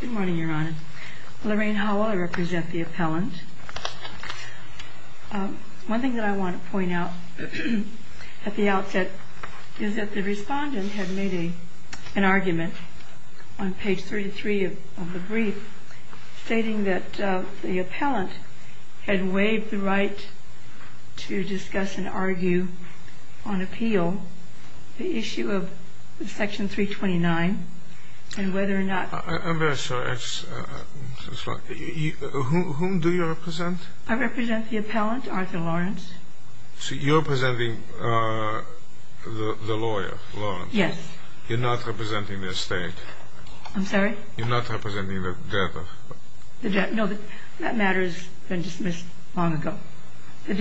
Good morning, Your Honor. Lorraine Howell, I represent the appellant. One thing that I want to point out at the outset is that the respondent had made an argument on page 33 of the brief stating that the appellant had waived the right to discuss and argue on appeal the issue of Section 329 I'm very sorry. Whom do you represent? I represent the appellant, Arthur Lawrence. So you're representing the lawyer, Lawrence? Yes. You're not representing the estate? I'm sorry? You're not representing the debtor? No, that matter has been dismissed long ago. I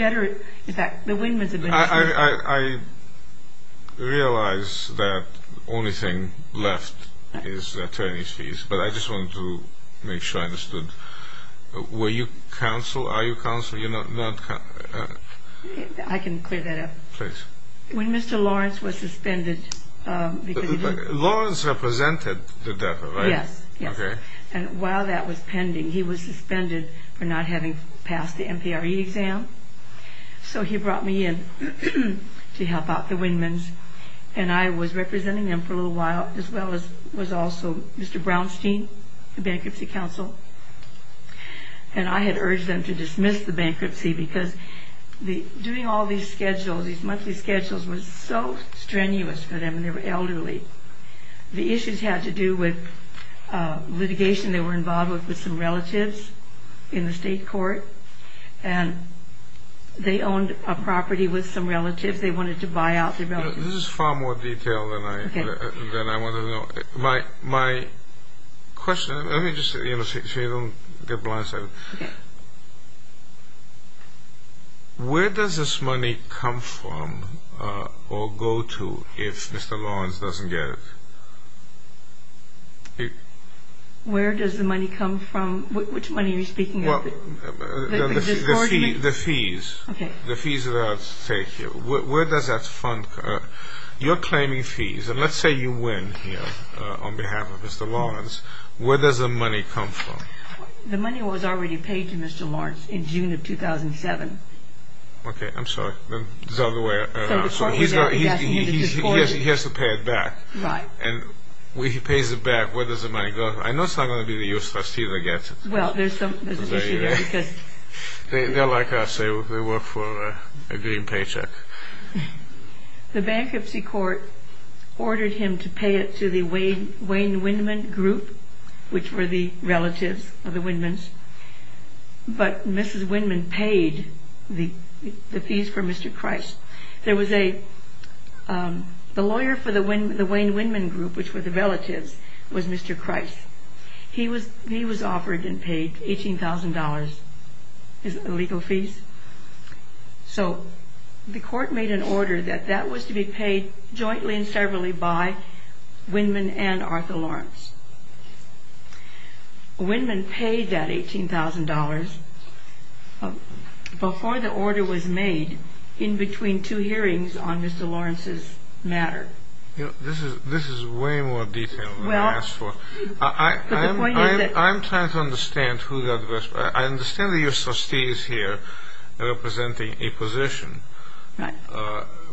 realize that the only thing left is the attorney's fees, but I just wanted to make sure I understood. Were you counsel? Are you counsel? I can clear that up. When Mr. Lawrence was suspended... Lawrence represented the debtor, right? Yes. And while that was pending, he was suspended for not having passed the MPRE exam. So he brought me in to help out the Windmans, and I was representing them for a little while, as well as was also Mr. Brownstein, the bankruptcy counsel, and I had urged them to dismiss the bankruptcy because doing all these schedules, these monthly schedules, was so strenuous for them, and they were elderly. The issues had to do with litigation. They were involved with some relatives in the state court, and they owned a property with some relatives. They wanted to buy out their relatives. This is far more detailed than I want to know. My question... let me just... so you don't get blindsided. Where does this money come from or go to if Mr. Lawrence doesn't get it? Where does the money come from? Which money are you speaking of? The fees. The fees that are at stake here. Where does that fund... you're claiming fees, and let's say you win here on behalf of Mr. Lawrence. Where does the money come from? The money was already paid to Mr. Lawrence in June of 2007. Okay, I'm sorry. He has to pay it back. Right. And when he pays it back, where does the money go? I know it's not going to be the U.S. trustees that gets it. Well, there's an issue here because... They're like us. They work for a green paycheck. The bankruptcy court ordered him to pay it to the Wayne Winman Group, which were the relatives of the Winmans. But Mrs. Winman paid the fees for Mr. Christ. There was a... the lawyer for the Wayne Winman Group, which were the relatives, was Mr. Christ. He was offered and paid $18,000 in legal fees. So the court made an order that that was to be paid jointly and severally by Winman and Arthur Lawrence. Winman paid that $18,000 before the order was made in between two hearings on Mr. Lawrence's matter. This is way more detailed than I asked for. But the point is that... I'm trying to understand who... I understand the U.S. trustee is here representing a position. Right.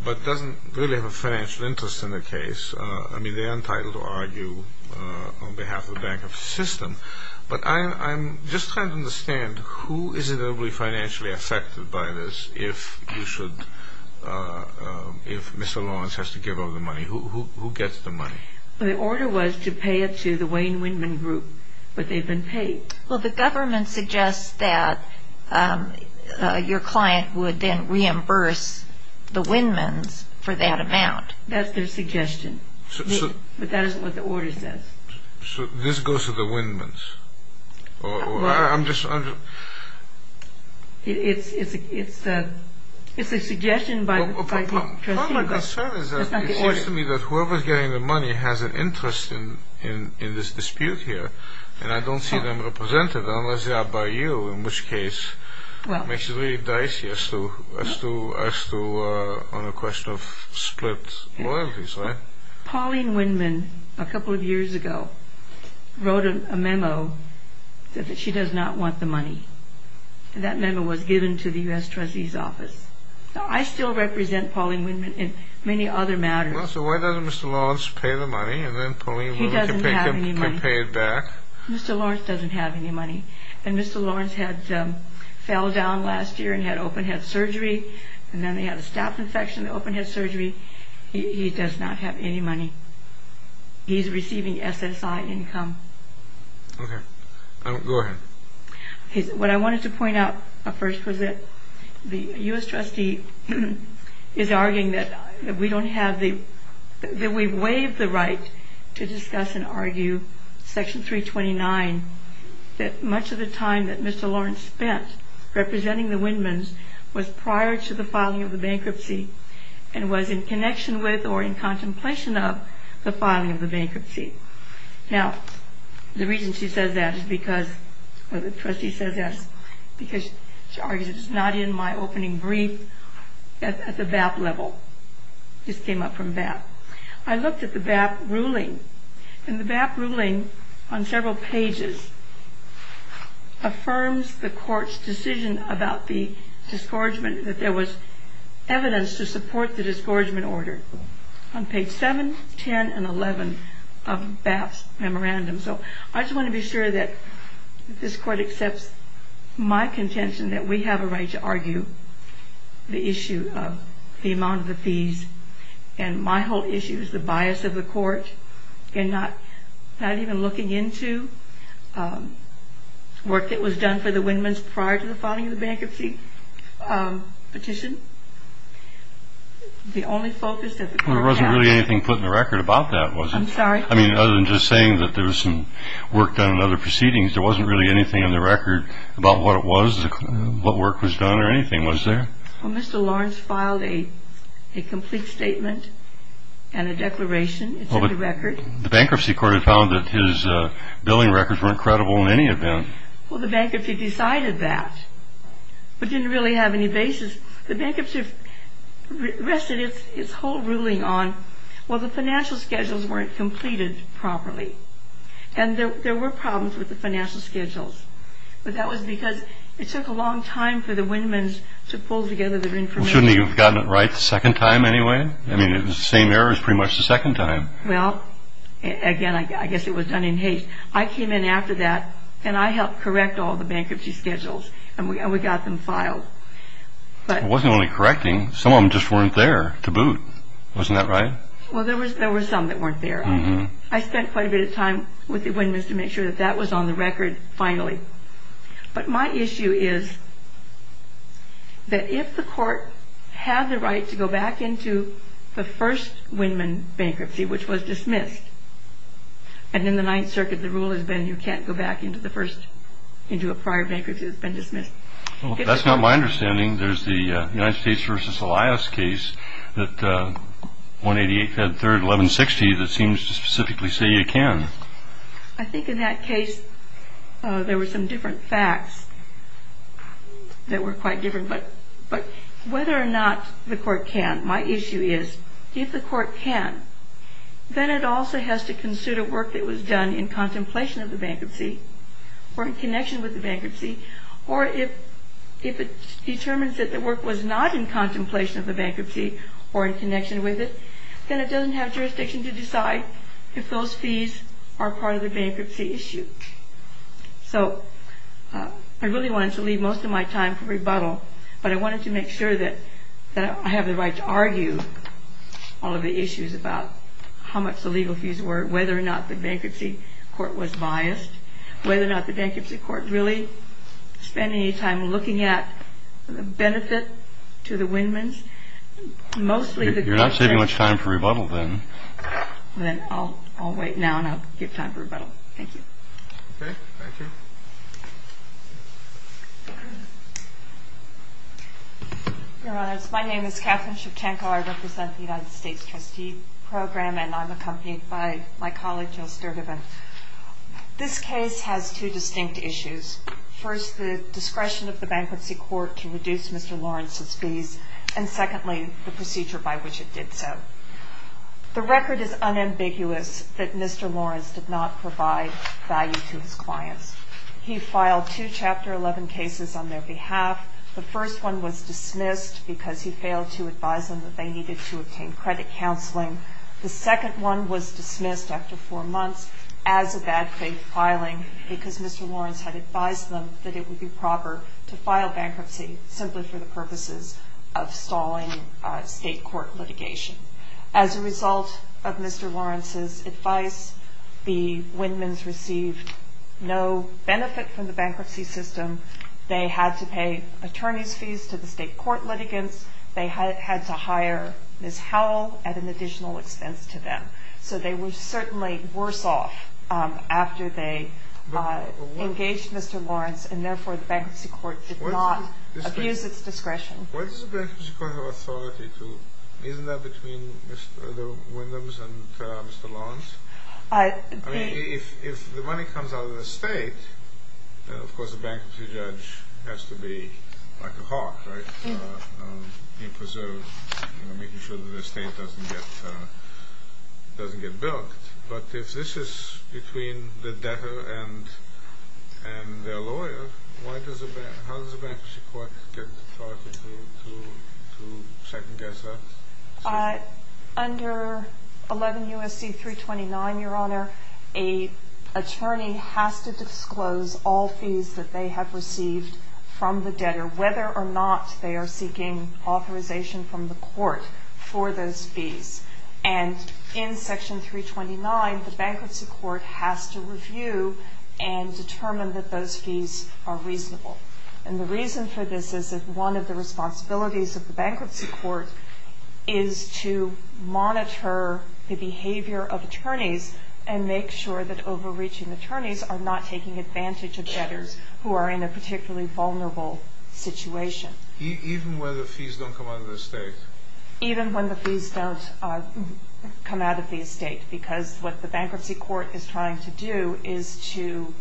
But doesn't really have a financial interest in the case. I mean, they're entitled to argue on behalf of the bankruptcy system. But I'm just trying to understand who is inevitably financially affected by this if you should... if Mr. Lawrence has to give over the money. Who gets the money? The order was to pay it to the Wayne Winman Group, but they've been paid. Well, the government suggests that your client would then reimburse the Winmans for that amount. That's their suggestion. But that isn't what the order says. So this goes to the Winmans? Well... I'm just... It's a suggestion by the trustee. Well, my concern is that it seems to me that whoever is getting the money has an interest in this dispute here. And I don't see them represented unless they are by you, in which case it makes it really dicey as to... on a question of split loyalties, right? Pauline Winman, a couple of years ago, wrote a memo that she does not want the money. And that memo was given to the U.S. trustee's office. I still represent Pauline Winman in many other matters. Well, so why doesn't Mr. Lawrence pay the money and then Pauline Winman can pay it back? He doesn't have any money. Mr. Lawrence doesn't have any money. And Mr. Lawrence had... fell down last year and had open-head surgery. And then they had a staph infection, the open-head surgery. He does not have any money. He's receiving SSI income. Okay. Go ahead. What I wanted to point out first was that the U.S. trustee is arguing that we don't have the... that we waive the right to discuss and argue Section 329, that much of the time that Mr. Lawrence spent representing the Winmans was prior to the filing of the bankruptcy and was in connection with or in contemplation of the filing of the bankruptcy. Now, the reason she says that is because... the trustee says yes because she argues it is not in my opening brief at the BAP level. This came up from BAP. I looked at the BAP ruling, and the BAP ruling on several pages affirms the Court's decision about the discouragement that there was evidence to support the discouragement order. On page 7, 10, and 11 of BAP's memorandum. So I just want to be sure that this Court accepts my contention that we have a right to argue the issue of the amount of the fees. And my whole issue is the bias of the Court and not even looking into work that was done for the Winmans prior to the filing of the bankruptcy petition. The only focus that the Court had... Well, there wasn't really anything put in the record about that, was there? I'm sorry? I mean, other than just saying that there was some work done in other proceedings, there wasn't really anything in the record about what it was, what work was done, or anything, was there? Well, Mr. Lawrence filed a complete statement and a declaration. It's in the record. The Bankruptcy Court had found that his billing records weren't credible in any event. Well, the Bankruptcy decided that, but didn't really have any basis. The Bankruptcy rested its whole ruling on, well, the financial schedules weren't completed properly. And there were problems with the financial schedules. But that was because it took a long time for the Winmans to pull together their information. Shouldn't you have gotten it right the second time anyway? I mean, it was the same errors pretty much the second time. Well, again, I guess it was done in haste. I came in after that, and I helped correct all the bankruptcy schedules, and we got them filed. It wasn't only correcting. Some of them just weren't there to boot. Wasn't that right? Well, there were some that weren't there. I spent quite a bit of time with the Winmans to make sure that that was on the record finally. But my issue is that if the court had the right to go back into the first Winman bankruptcy, which was dismissed, and in the Ninth Circuit the rule has been you can't go back into a prior bankruptcy that's been dismissed. Well, that's not my understanding. There's the United States v. Elias case, 188.3.1160, that seems to specifically say you can. I think in that case there were some different facts that were quite different. But whether or not the court can, my issue is if the court can, then it also has to consider work that was done in contemplation of the bankruptcy or in connection with the bankruptcy. Or if it determines that the work was not in contemplation of the bankruptcy or in connection with it, then it doesn't have jurisdiction to decide if those fees are part of the bankruptcy issue. So I really wanted to leave most of my time for rebuttal, but I wanted to make sure that I have the right to argue all of the issues about how much the legal fees were, whether or not the bankruptcy court was biased, whether or not the bankruptcy court really spent any time looking at the benefit to the Winmans. You're not saving much time for rebuttal then. I'll wait now, and I'll give time for rebuttal. Thank you. Okay. Thank you. Your Honor, my name is Katherine Shepchenko. I represent the United States trustee program, and I'm accompanied by my colleague Jill Sturtevant. This case has two distinct issues. First, the discretion of the bankruptcy court to reduce Mr. Lawrence's fees, and secondly, the procedure by which it did so. The record is unambiguous that Mr. Lawrence did not provide value to his clients. He filed two Chapter 11 cases on their behalf. The first one was dismissed because he failed to advise them that they needed to obtain credit counseling. The second one was dismissed after four months as a bad faith filing because Mr. Lawrence had advised them that it would be proper to file bankruptcy simply for the purposes of stalling state court litigation. As a result of Mr. Lawrence's advice, the Winmans received no benefit from the bankruptcy system. They had to pay attorney's fees to the state court litigants. They had to hire Ms. Howell at an additional expense to them. So they were certainly worse off after they engaged Mr. Lawrence, and therefore the bankruptcy court did not abuse its discretion. Why does the bankruptcy court have authority to? Isn't that between the Winmans and Mr. Lawrence? I mean, if the money comes out of the state, then of course the bankruptcy judge has to be like a hawk, right? Making sure that the estate doesn't get bilked. But if this is between the debtor and their lawyer, how does the bankruptcy court get the authority to second-guess that? Under 11 U.S.C. 329, Your Honor, an attorney has to disclose all fees that they have received from the debtor, whether or not they are seeking authorization from the court for those fees. And in Section 329, the bankruptcy court has to review and determine that those fees are reasonable. And the reason for this is that one of the responsibilities of the bankruptcy court is to monitor the behavior of attorneys and make sure that overreaching attorneys are not taking advantage of debtors who are in a particularly vulnerable situation. Even when the fees don't come out of the state? Even when the fees don't come out of the estate, because what the bankruptcy court is trying to do is to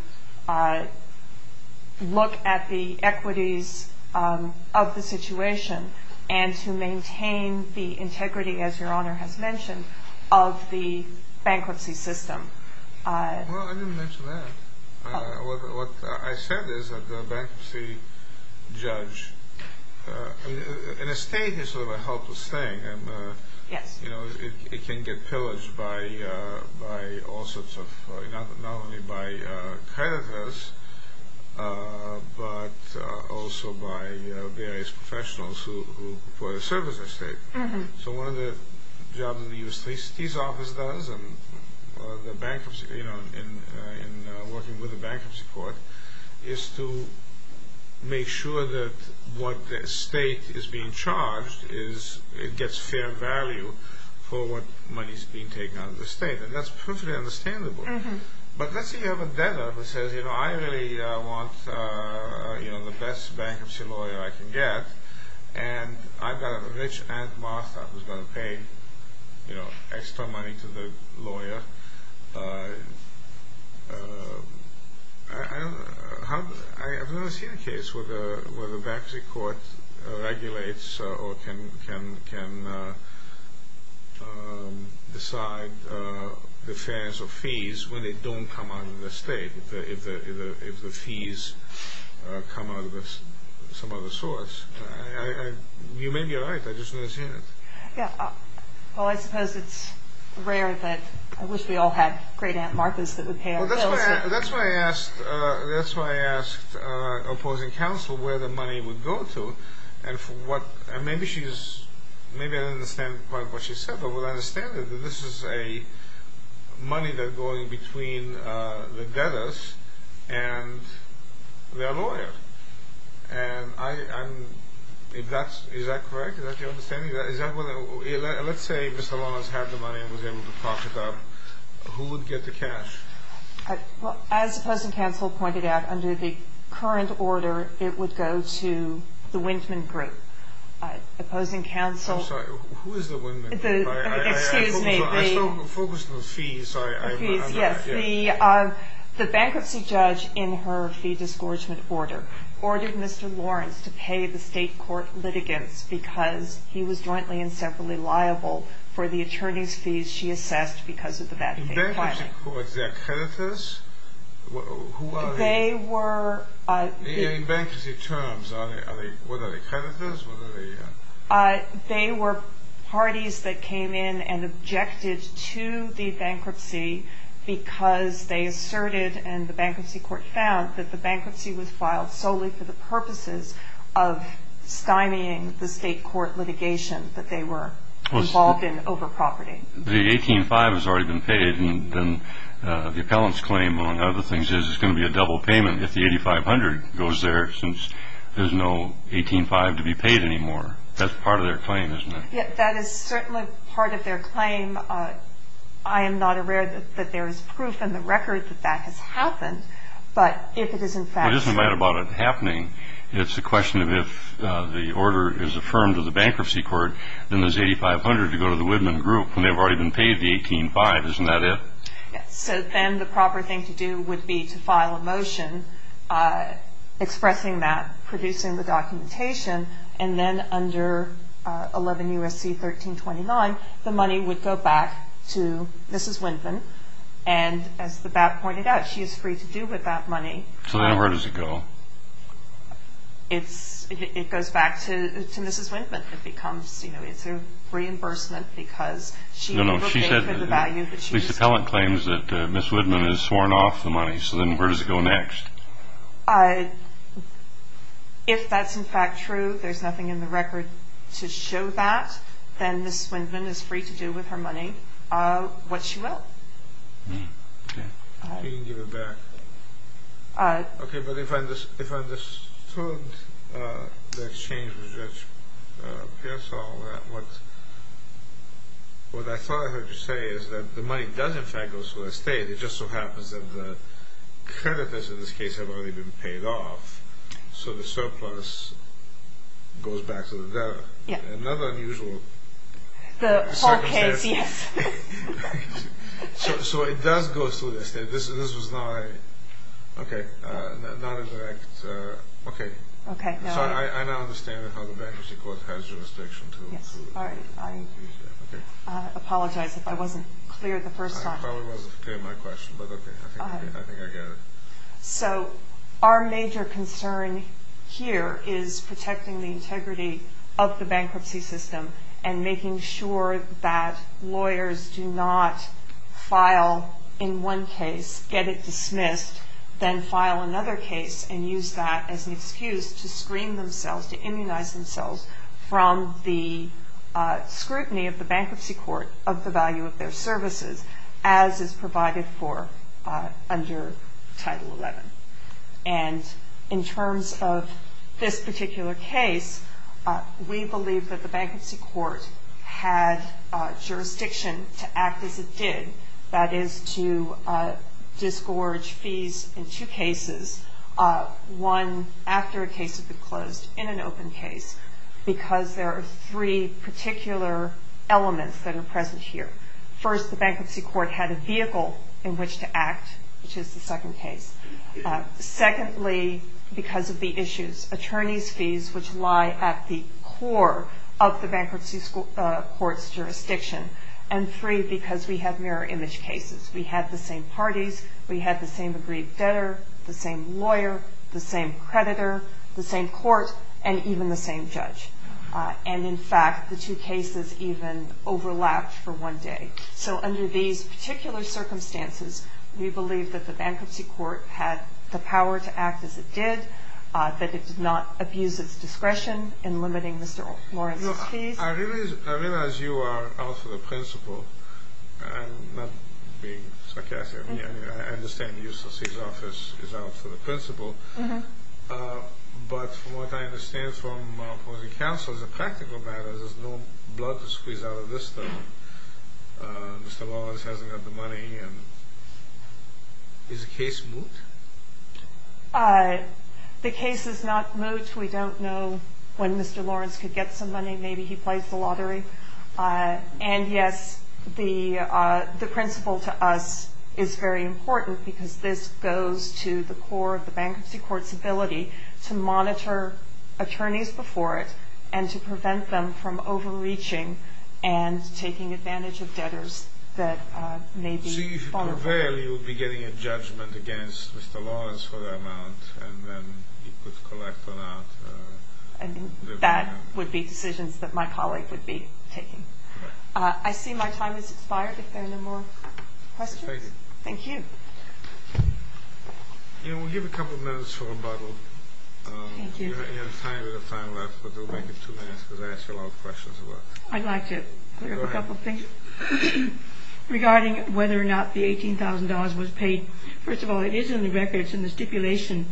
look at the equities of the situation and to maintain the integrity, as Your Honor has mentioned, of the bankruptcy system. Well, I didn't mention that. What I said is that the bankruptcy judge, an estate is sort of a helpless thing. Yes. It can get pillaged by all sorts of, not only by creditors, but also by various professionals who provide a service estate. So one of the jobs that the U.S. Attorney's Office does in working with the bankruptcy court is to make sure that what the estate is being charged gets fair value for what money is being taken out of the estate. And that's perfectly understandable. But let's say you have a debtor who says, I really want the best bankruptcy lawyer I can get, and I've got a rich Aunt Martha who's going to pay extra money to the lawyer. I've never seen a case where the bankruptcy court regulates or can decide the fares or fees when they don't come out of the estate, if the fees come out of some other source. You may be right, I've just never seen it. Well, I suppose it's rare, but I wish we all had great Aunt Martha's that would pay our bills. Well, that's why I asked opposing counsel where the money would go to. And maybe I don't understand quite what she said, but we'll understand that this is money that's going between the debtors and their lawyer. And is that correct? Is that your understanding? Let's say Mr. Lawrence had the money and was able to profit up. Who would get the cash? Well, as opposing counsel pointed out, under the current order, it would go to the Windman Group. Opposing counsel... I'm sorry, who is the Windman Group? Excuse me. I'm still focused on the fees. The fees, yes. The bankruptcy judge, in her fee disgorgement order, ordered Mr. Lawrence to pay the state court litigants because he was jointly and separately liable for the attorney's fees she assessed because of the bad faith planning. In bankruptcy courts, there are creditors? They were... In bankruptcy terms, what are the creditors? They were parties that came in and objected to the bankruptcy because they asserted, and the bankruptcy court found, that the bankruptcy was filed solely for the purposes of stymying the state court litigation that they were involved in over property. The 18-5 has already been paid, and then the appellant's claim, among other things, is it's going to be a double payment if the 8500 goes there since there's no 18-5 to be paid anymore. That's part of their claim, isn't it? That is certainly part of their claim. I am not aware that there is proof in the record that that has happened, but if it is in fact... It doesn't matter about it happening. It's a question of if the order is affirmed to the bankruptcy court, then there's 8500 to go to the Widman group when they've already been paid the 18-5. Isn't that it? Yes. So then the proper thing to do would be to file a motion expressing that, producing the documentation, and then under 11 U.S.C. 1329, the money would go back to Mrs. Widman, and as the BAP pointed out, she is free to do with that money. So then where does it go? It goes back to Mrs. Widman. It's a reimbursement because she... No, no. The appellant claims that Mrs. Widman has sworn off the money, so then where does it go next? If that's in fact true, there's nothing in the record to show that, then Mrs. Widman is free to do with her money what she will. Okay. She can give it back. Okay, but if I understood the exchange with Judge Pearsall, what I thought I heard you say is that the money does in fact go to the state. It just so happens that the creditors in this case have already been paid off, so the surplus goes back to the debtor. Yeah. Another unusual circumstance. The poor case, yes. So it does go to the state. This was not a direct... Okay. Okay. So I now understand how the bankruptcy court has jurisdiction to... Yes. All right. I apologize if I wasn't clear the first time. I probably wasn't clear in my question, but okay. I think I get it. So our major concern here is protecting the integrity of the bankruptcy system and making sure that lawyers do not file in one case, get it dismissed, then file another case and use that as an excuse to screen themselves, to immunize themselves from the scrutiny of the bankruptcy court of the value of their services as is provided for under Title XI. And in terms of this particular case, we believe that the bankruptcy court had jurisdiction to act as it did, that is to disgorge fees in two cases, one after a case had been closed in an open case, because there are three particular elements that are present here. First, the bankruptcy court had a vehicle in which to act, which is the second case. Secondly, because of the issues, attorneys' fees which lie at the core of the bankruptcy court's jurisdiction, and three, because we had mirror image cases. We had the same parties. We had the same agreed debtor, the same lawyer, the same creditor, the same court, and even the same judge. And, in fact, the two cases even overlapped for one day. So under these particular circumstances, we believe that the bankruptcy court had the power to act as it did, that it did not abuse its discretion in limiting Mr. Lawrence's fees. I realize you are out for the principal. I'm not being sarcastic. But from what I understand from opposing counsel, as a practical matter, there's no blood to squeeze out of this stuff. Mr. Lawrence hasn't got the money. Is the case moot? The case is not moot. We don't know when Mr. Lawrence could get some money. Maybe he plays the lottery. And, yes, the principal to us is very important because this goes to the core of the bankruptcy court's ability to monitor attorneys before it and to prevent them from overreaching and taking advantage of debtors that may be vulnerable. So if you prevail, you'll be getting a judgment against Mr. Lawrence for that amount, and then he could collect or not? That would be decisions that my colleague would be taking. I see my time has expired. If there are no more questions. Thank you. We'll give a couple of minutes for rebuttal. We have a tiny bit of time left, but we'll make it two minutes because I asked a lot of questions of us. I'd like to clear up a couple of things regarding whether or not the $18,000 was paid. First of all, it is in the records in the stipulation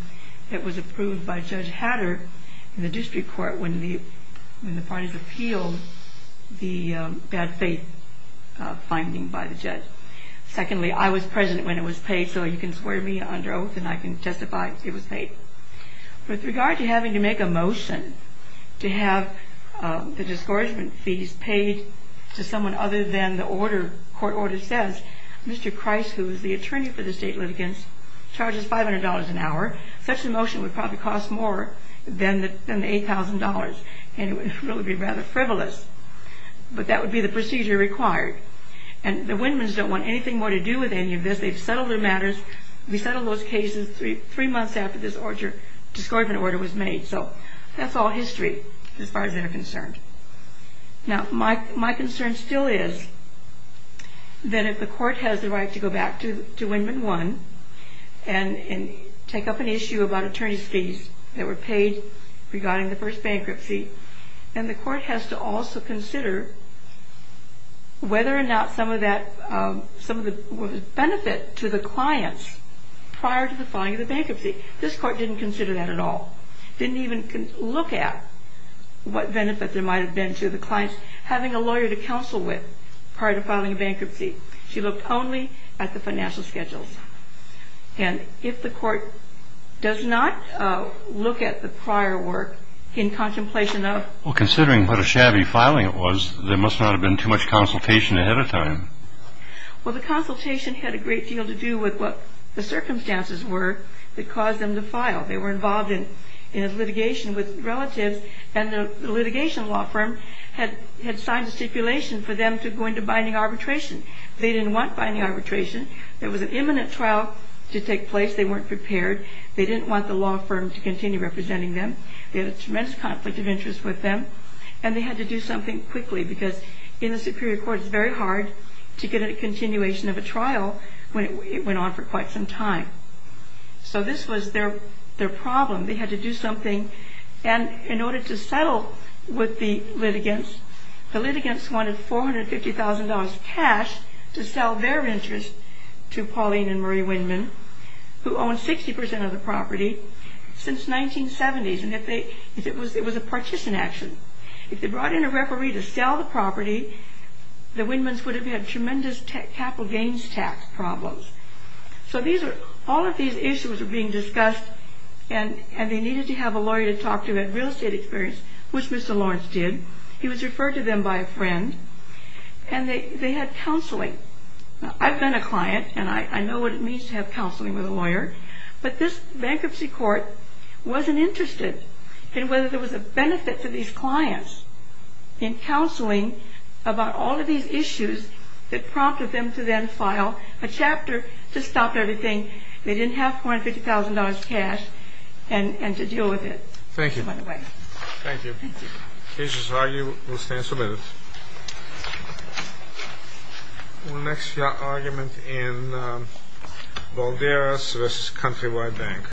that was approved by Judge Hatter in the district court when the parties appealed the bad faith finding by the judge. Secondly, I was present when it was paid, so you can swear me under oath and I can testify it was paid. With regard to having to make a motion to have the discouragement fees paid to someone other than the court order says, Mr. Christ, who is the attorney for the state litigants, charges $500 an hour, such a motion would probably cost more than the $8,000, and it would really be rather frivolous, but that would be the procedure required. The Windmans don't want anything more to do with any of this. They've settled their matters. We settled those cases three months after this discouragement order was made, so that's all history as far as they're concerned. Now, my concern still is that if the court has the right to go back to Windman 1 and take up an issue about attorney's fees that were paid regarding the first bankruptcy, then the court has to also consider whether or not some of that, some of the benefit to the clients prior to the filing of the bankruptcy. This court didn't consider that at all. Didn't even look at what benefit there might have been to the clients having a lawyer to counsel with prior to filing a bankruptcy. She looked only at the financial schedules, And if the court does not look at the prior work in contemplation of Well, considering what a shabby filing it was, there must not have been too much consultation ahead of time. Well, the consultation had a great deal to do with what the circumstances were that caused them to file. They were involved in litigation with relatives, and the litigation law firm had signed a stipulation for them to go into binding arbitration. They didn't want binding arbitration. There was an imminent trial to take place. They weren't prepared. They didn't want the law firm to continue representing them. They had a tremendous conflict of interest with them. And they had to do something quickly, because in the Superior Court it's very hard to get a continuation of a trial when it went on for quite some time. So this was their problem. They had to do something. And in order to settle with the litigants, the litigants wanted $450,000 cash to sell their interest to Pauline and Marie Windman, who owned 60% of the property since 1970s. And it was a purchase in action. If they brought in a referee to sell the property, the Windmans would have had tremendous capital gains tax problems. So all of these issues were being discussed, and they needed to have a lawyer to talk to about real estate experience, which Mr. Lawrence did. He was referred to them by a friend, and they had counseling. I've been a client, and I know what it means to have counseling with a lawyer, but this bankruptcy court wasn't interested in whether there was a benefit to these clients in counseling about all of these issues that prompted them to then file a chapter to stop everything. They didn't have $450,000 cash, and to deal with it. Thank you. Thank you. Thank you. The case is argued. We'll stand for a minute. We'll next hear an argument in Balderas v. Countrywide Bank.